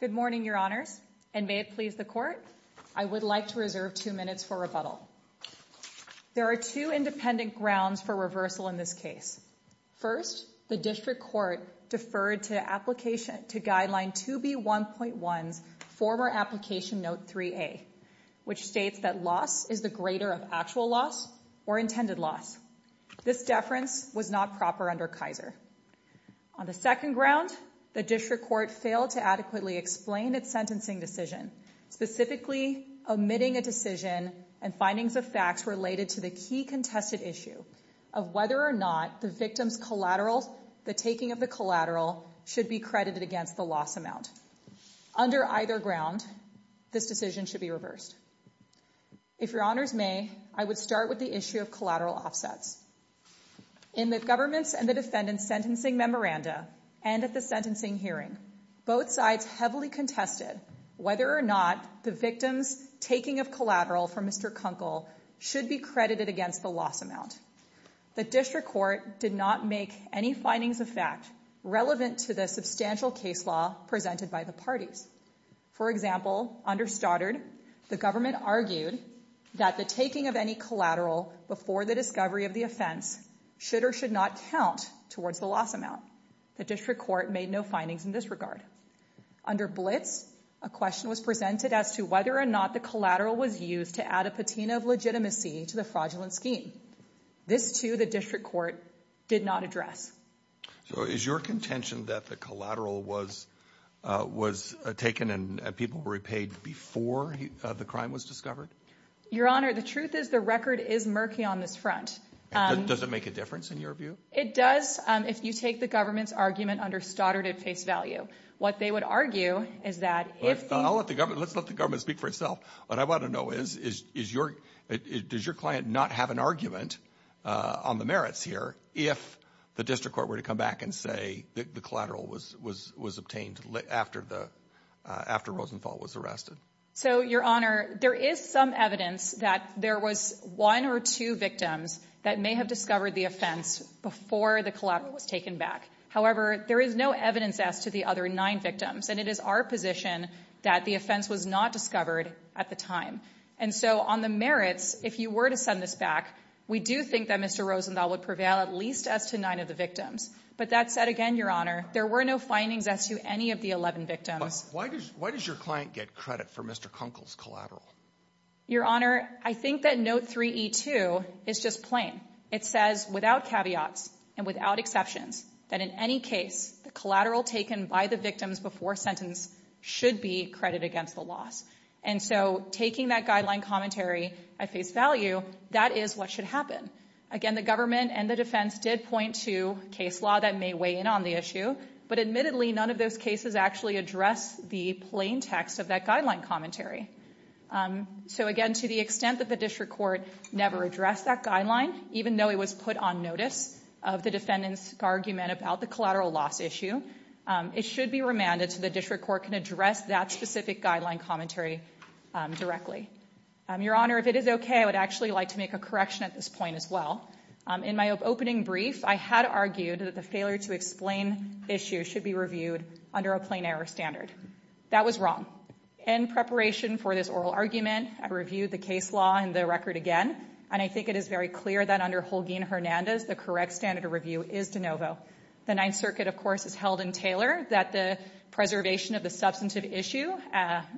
Good morning, Your Honors, and may it please the Court, I would like to reserve two minutes for rebuttal. There are two independent grounds for reversal in this case. First, the District Court deferred to application to guideline 2B.1.1's former application note 3A, which states that loss is the greater of actual loss or intended loss. This deference was not proper under Kaiser. On the second ground, the District Court failed to adequately explain its sentencing decision, specifically omitting a decision and findings of facts related to the key contested issue of whether or not the victim's collateral, the taking of the collateral, should be credited against the loss amount. Under either ground, this decision should be reversed. If Your Honors may, I would start with the issue of collateral offsets. In the government's and the defendant's sentencing memoranda and at the sentencing hearing, both sides heavily contested whether or not the victim's taking of collateral from Mr. Kunkel should be credited against the loss amount. The District Court did not make any findings of fact relevant to the substantial case law presented by the parties. For example, under Stoddard, the government argued that the taking of any collateral before the discovery of the offense should or should not count towards the loss amount. The District Court made no findings in this regard. Under Blitz, a question was presented as to whether or not the collateral was used to add a patina of legitimacy to the fraudulent scheme. This too, the District Court did not address. So is your contention that the collateral was taken and people were repaid before the crime was discovered? Your Honor, the truth is the record is murky on this front. Does it make a difference in your view? It does, if you take the government's argument under Stoddard at face value. What they would argue is that if the... Let's let the government speak for itself. What I want to know is, does your client not have an argument on the merits here if the District Court were to come back and say that the collateral was obtained after Rosenthal was arrested? So, Your Honor, there is some evidence that there was one or two victims that may have discovered the offense before the collateral was taken back. However, there is no evidence as to the other nine victims. And it is our position that the offense was not discovered at the time. And so on the merits, if you were to send this back, we do think that Mr. Rosenthal would prevail at least as to nine of the victims. But that said again, Your Honor, there were no findings as to any of the 11 victims. Why does your client get credit for Mr. Kunkel's collateral? Your Honor, I think that note 3E2 is just plain. It says, without caveats and without exceptions, that in any case, the collateral taken by the victims before sentence should be credit against the loss. And so taking that guideline commentary at face value, that is what should happen. Again, the government and the defense did point to case law that may weigh in on the issue. But admittedly, none of those cases actually address the plain text of that guideline commentary. So again, to the extent that the District Court never addressed that guideline, even though it was put on notice of the defendant's argument about the collateral loss issue, it should be remanded so the District Court can address that specific guideline commentary directly. Your Honor, if it is okay, I would actually like to make a correction at this point as In my opening brief, I had argued that the failure to explain the issue should be reviewed under a plain error standard. That was wrong. In preparation for this oral argument, I reviewed the case law and the record again, and I think it is very clear that under Holguin-Hernandez, the correct standard of review is de novo. The Ninth Circuit, of course, has held in Taylor that the preservation of the substantive issue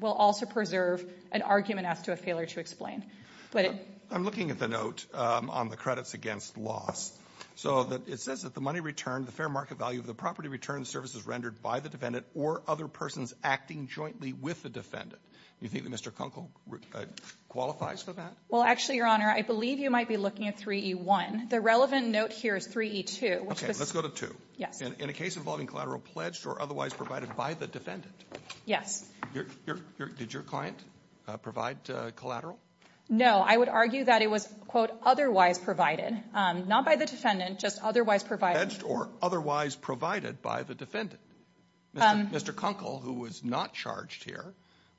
will also preserve an argument as to a failure to explain. But it But I'm looking at the note on the credits against loss. So it says that the money returned, the fair market value of the property returned, the service is rendered by the defendant or other persons acting jointly with the defendant. Do you think that Mr. Kunkel qualifies for that? Well, actually, Your Honor, I believe you might be looking at 3E1. The relevant note here is 3E2. Let's go to 2. Yes. In a case involving collateral pledged or otherwise provided by the defendant. Yes. Did your client provide collateral? No. I would argue that it was, quote, otherwise provided, not by the defendant, just otherwise provided. Pledged or otherwise provided by the defendant. Mr. Kunkel, who was not charged here,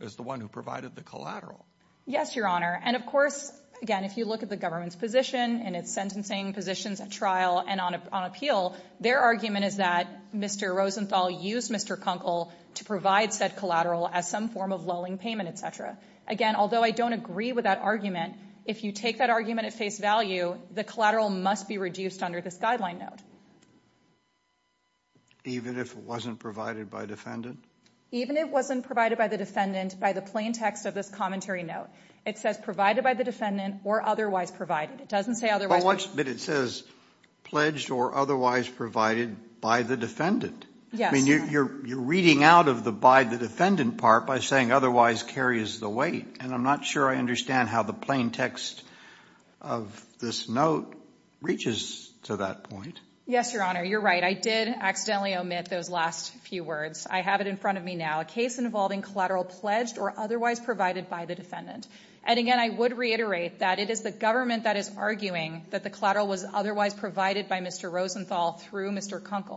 is the one who provided the collateral. Yes, Your Honor. And, of course, again, if you look at the government's position and its sentencing positions at trial and on appeal, their argument is that Mr. Rosenthal used Mr. Kunkel to provide said collateral as some form of lolling payment, et cetera. Again, although I don't agree with that argument, if you take that argument at face value, the collateral must be reduced under this guideline note. Even if it wasn't provided by defendant? Even if it wasn't provided by the defendant by the plain text of this commentary note. It says provided by the defendant or otherwise provided. It doesn't say otherwise. But it says pledged or otherwise provided by the defendant. Yes. I mean, you're reading out of the by the defendant part by saying otherwise carries the weight. And I'm not sure I understand how the plain text of this note reaches to that point. Yes, Your Honor. You're right. I did accidentally omit those last few words. I have it in front of me now. A case involving collateral pledged or otherwise provided by the defendant. And again, I would reiterate that it is the government that is arguing that the collateral was otherwise provided by Mr. Rosenthal through Mr.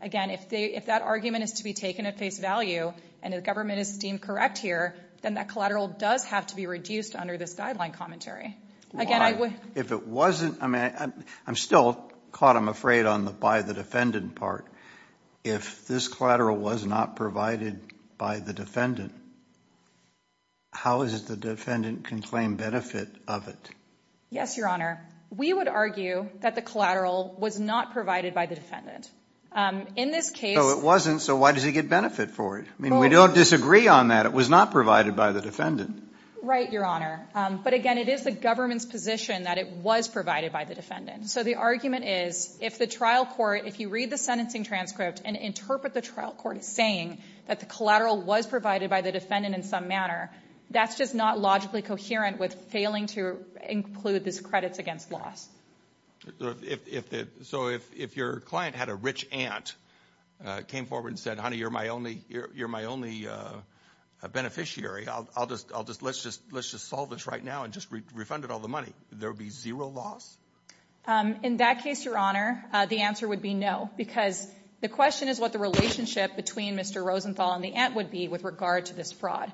Again, if that argument is to be taken at face value and the government is deemed correct here, then that collateral does have to be reduced under this guideline commentary. Again, I would. If it wasn't, I mean, I'm still caught, I'm afraid, on the by the defendant part. If this collateral was not provided by the defendant, how is it the defendant can claim benefit of it? Yes, Your Honor. We would argue that the collateral was not provided by the defendant. In this case. So it wasn't, so why does he get benefit for it? I mean, we don't disagree on that. It was not provided by the defendant. Right, Your Honor. But again, it is the government's position that it was provided by the defendant. So the argument is, if the trial court, if you read the sentencing transcript and interpret the trial court as saying that the collateral was provided by the defendant in some manner, that's just not logically coherent with failing to include this credits against loss. If the, so if your client had a rich aunt, came forward and said, honey, you're my only, you're my only beneficiary, I'll just, I'll just, let's just, let's just solve this right now and just refunded all the money, there would be zero loss? In that case, Your Honor, the answer would be no, because the question is what the relationship between Mr. Rosenthal and the aunt would be with regard to this fraud.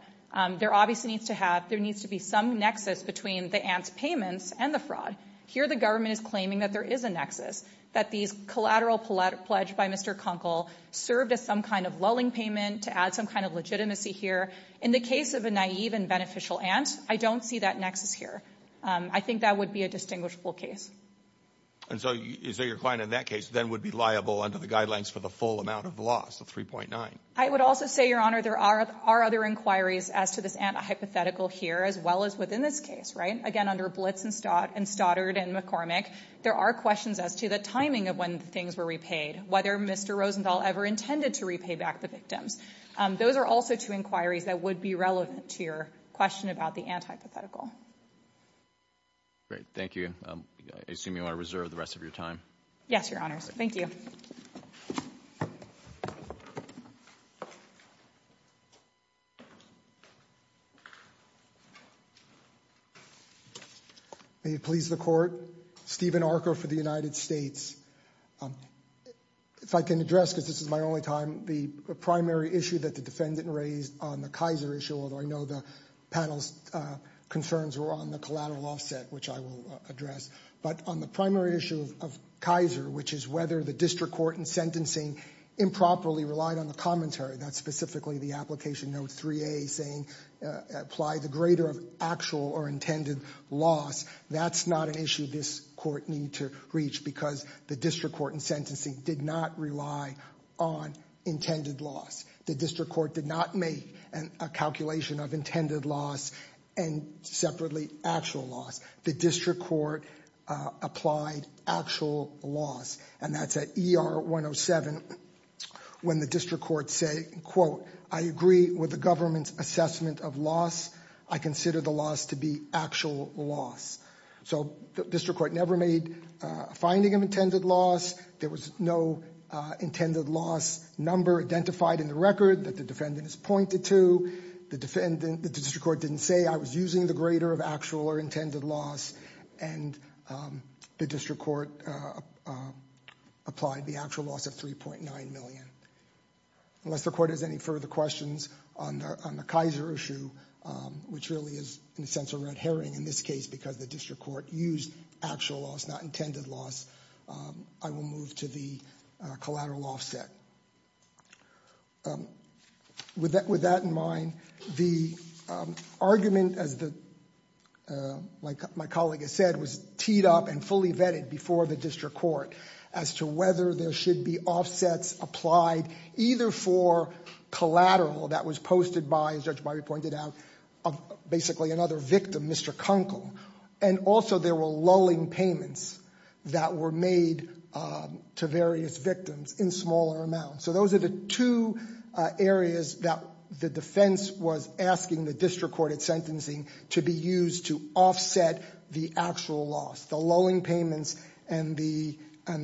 There obviously needs to have, there needs to be some nexus between the aunt's payments and the fraud. Here the government is claiming that there is a nexus, that these collateral pledged by Mr. Kunkel served as some kind of lulling payment to add some kind of legitimacy here. In the case of a naive and beneficial aunt, I don't see that nexus here. I think that would be a distinguishable case. And so, so your client in that case then would be liable under the guidelines for the full amount of loss, the 3.9. I would also say, Your Honor, there are other inquiries as to this aunt hypothetical here as well as within this case, right? Again, under Blitz and Stoddard and McCormick, there are questions as to the timing of when things were repaid, whether Mr. Rosenthal ever intended to repay back the Those are also two inquiries that would be relevant to your question about the aunt hypothetical. Great, thank you. I assume you want to reserve the rest of your time? Yes, Your Honors. Thank you. May it please the Court, Stephen Archer for the United States. If I can address, because this is my only time, the primary issue that the defendant raised on the Kaiser issue, although I know the panel's concerns were on the collateral offset, which I will address. But on the primary issue of Kaiser, which is whether the district court in sentencing improperly relied on the commentary, that's specifically the application note 3A saying apply the greater of actual or intended loss. That's not an issue this court need to reach because the district court in sentencing did not rely on intended loss. The district court did not make a calculation of intended loss and separately actual loss. The district court applied actual loss. And that's at ER 107 when the district court say, quote, I agree with the government's assessment of loss. I consider the loss to be actual loss. So the district court never made a finding of intended loss. There was no intended loss number identified in the record that the defendant is pointed to. The defendant, the district court didn't say I was using the greater of actual or intended loss and the district court applied the actual loss of 3.9 million. Unless the court has any further questions on the Kaiser issue, which really is in a sense a red herring in this case because the district court used actual loss, not intended loss, I will move to the collateral offset. With that in mind, the argument, as my colleague has said, was teed up and fully vetted before the district court as to whether there should be offsets applied either for collateral that was posted by, as Judge Byrie pointed out, basically another victim, Mr. Kunkel, and also there were lulling payments that were made to various victims in smaller amounts. So those are the two areas that the defense was asking the district court at sentencing to be used to offset the actual loss. The lulling payments and the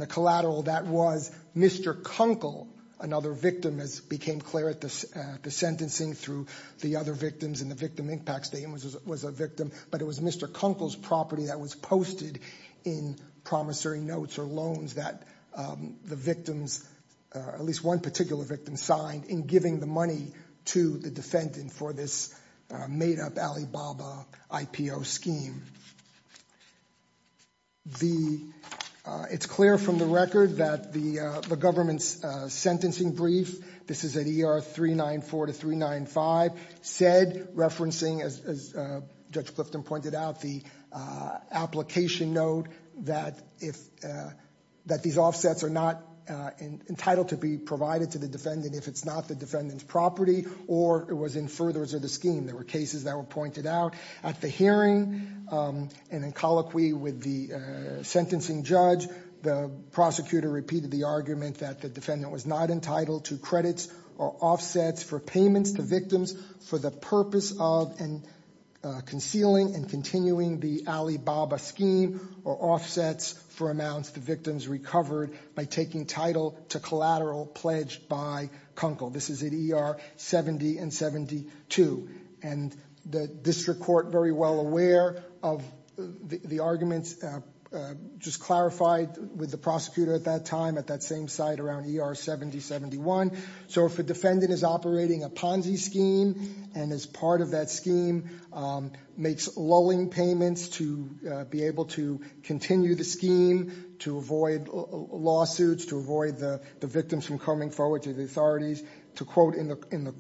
collateral that was Mr. Kunkel, another victim, as became clear at the sentencing through the other victims in the victim impact statement was a victim, but it was Mr. Kunkel's property that was posted in promissory notes or loans that the victims, at least one particular victim, signed in giving the money to the defendant for this made-up Alibaba IPO scheme. It's clear from the record that the government's sentencing brief, this is at ER 394 to 395, said, referencing, as Judge Clifton pointed out, the application note that these offsets are not entitled to be provided to the defendant if it's not the defendant's property or it was in furtherance of the scheme. There were cases that were pointed out. At the hearing and in colloquy with the sentencing judge, the prosecutor repeated the argument that the defendant was not entitled to credits or offsets for payments to victims for the purpose of concealing and continuing the Alibaba scheme or offsets for amounts the victims recovered by taking title to collateral pledged by Kunkel. This is at ER 70 and 72. And the district court, very well aware of the arguments, just clarified with the prosecutor at that time at that same site around ER 70, 71. So if a defendant is operating a Ponzi scheme and is part of that scheme, makes lulling payments to be able to continue the scheme, to avoid lawsuits, to avoid the victims from coming forward to the authorities, to quote in the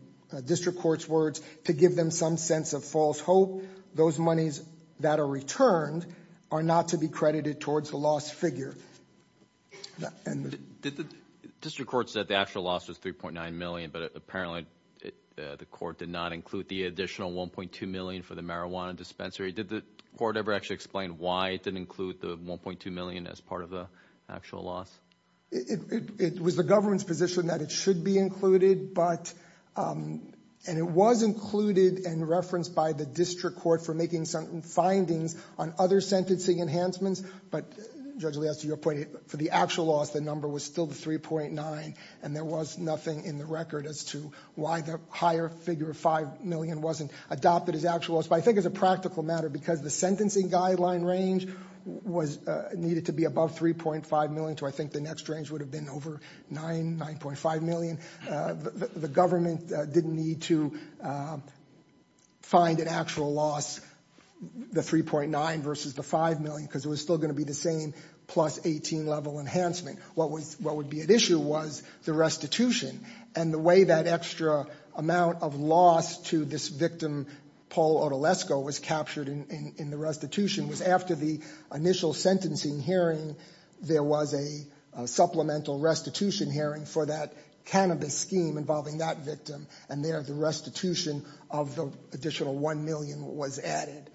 district court's words, to give them some sense of false hope, those monies that are returned are not to be credited towards the lost figure. District court said the actual loss was $3.9 million, but apparently the court did not include the additional $1.2 million for the marijuana dispensary. Did the court ever actually explain why it didn't include the $1.2 million as part of the actual loss? It was the government's position that it should be included, but, and it was included and referenced by the district court for making some findings on other sentencing enhancements, but, Judge Elias, to your point, for the actual loss, the number was still the $3.9 million, and there was nothing in the record as to why the higher figure of $5 million wasn't adopted as actual loss. But I think as a practical matter, because the sentencing guideline range was, needed to be above $3.5 million, so I think the next range would have been over $9, $9.5 million, the government didn't need to find an actual loss, the $3.9 versus the $5 million, because it was still going to be the same plus 18 level enhancement. What would be at issue was the restitution, and the way that extra amount of loss to this victim, Paul Odulesco, was captured in the restitution was after the initial sentencing hearing, there was a supplemental restitution hearing for that cannabis scheme involving that victim, and there the restitution of the additional $1 million was added.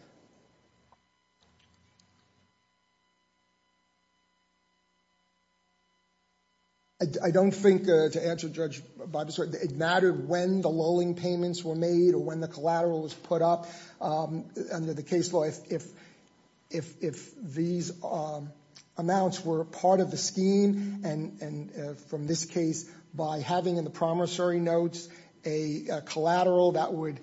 I don't think, to answer Judge Bob's question, it mattered when the loaning payments were made or when the collateral was put up under the case law, if these amounts were part of the scheme, and from this case, by having in the promissory notes a collateral that would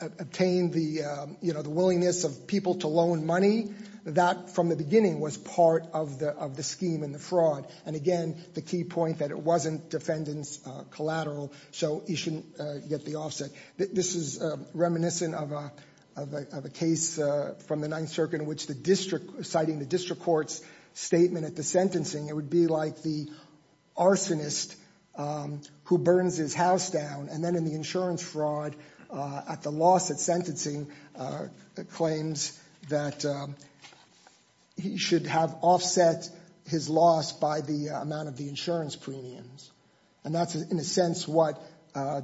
obtain the, you know, the willingness of people to loan money, that from the beginning was part of the scheme and the fraud, and again, the key point that it wasn't defendant's collateral, so you shouldn't get the offset. This is reminiscent of a case from the Ninth Circuit in which the district, citing the district court's statement at the sentencing, it would be like the arsonist who burns his house down, and then in the insurance fraud, at the loss at sentencing, claims that he should have offset his loss by the amount of the insurance premiums, and that's in a sense what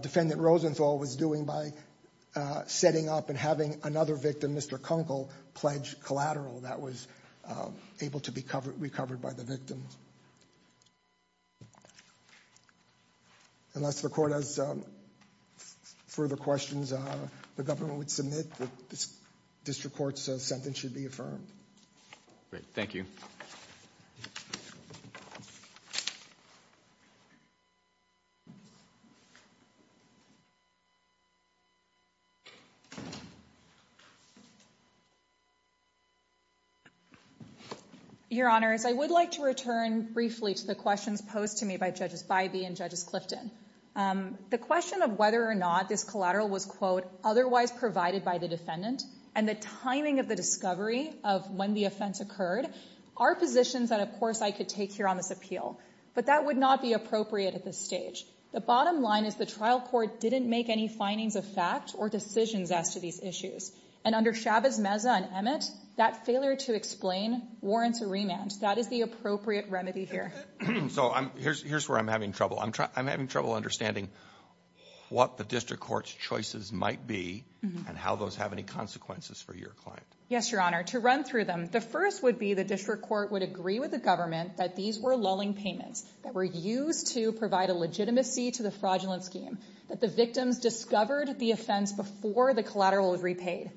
defendant Rosenthal was doing by setting up and having another victim, Mr. Kunkel, pledge collateral that was able to be recovered by the victim. Unless the court has further questions, the government would submit that this district court's sentence should be affirmed. Great. Thank you. Your Honor, as I would like to return briefly to the questions posed to me by Judges Bybee and Judges Clifton, the question of whether or not this collateral was, quote, otherwise provided by the defendant and the timing of the discovery of when the offense occurred are positions that, of course, I could take here on this appeal, but that would not be appropriate at this stage. The bottom line is the trial court didn't make any findings of fact or decisions as to these issues, and under Chavez-Meza and Emmett, that failure to explain warrants a remand. That is the appropriate remedy here. So here's where I'm having trouble. I'm having trouble understanding what the district court's choices might be and how those have any consequences for your client. Yes, Your Honor. To run through them. The first would be the district court would agree with the government that these were lulling payments that were used to provide a legitimacy to the fraudulent scheme, that the victims discovered the offense before the collateral was repaid.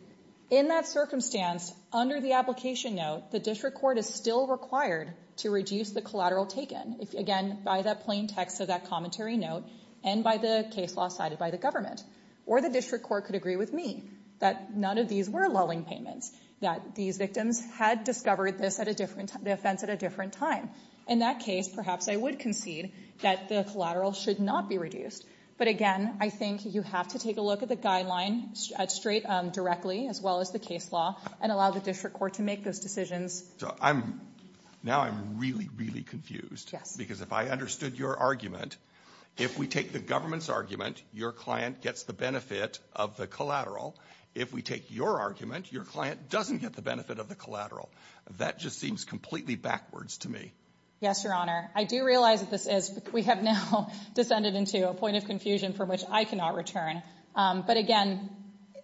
In that circumstance, under the application note, the district court is still required to reduce the collateral taken, again, by that plain text of that commentary note and by the case law cited by the government. Or the district court could agree with me that none of these were lulling payments, that these victims had discovered this at a different time, the offense at a different time. In that case, perhaps I would concede that the collateral should not be reduced. But again, I think you have to take a look at the guideline straight, directly, as well as the case law, and allow the district court to make those decisions. So I'm, now I'm really, really confused. Yes. Because if I understood your argument, if we take the government's argument, your client gets the benefit of the collateral. If we take your argument, your client doesn't get the benefit of the collateral. That just seems completely backwards to me. Yes, Your Honor. I do realize that this is, we have now descended into a point of confusion from which I cannot return. But again,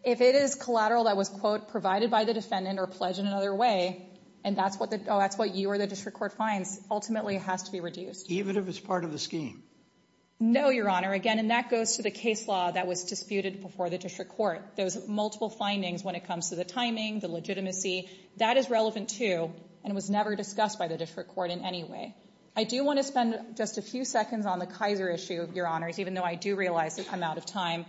if it is collateral that was, quote, provided by the defendant or pledged in another way, and that's what the, oh, that's what you or the district court finds, ultimately it has to be reduced. Even if it's part of the scheme? No, Your Honor. Again, and that goes to the case law that was disputed before the district court. There's multiple findings when it comes to the timing, the legitimacy. That is relevant, too, and was never discussed by the district court in any way. I do want to spend just a few seconds on the Kaiser issue, Your Honors, even though I do realize that I'm out of time.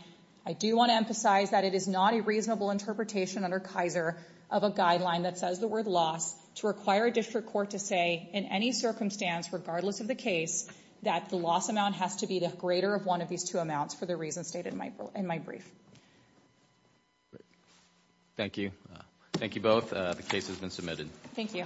I do want to emphasize that it is not a reasonable interpretation under Kaiser of a guideline that says the word loss to require a district court to say in any circumstance, regardless of the case, that the loss amount has to be the greater of one of these two amounts for the reasons stated in my brief. Thank you. Thank you both. The case has been submitted. Thank you.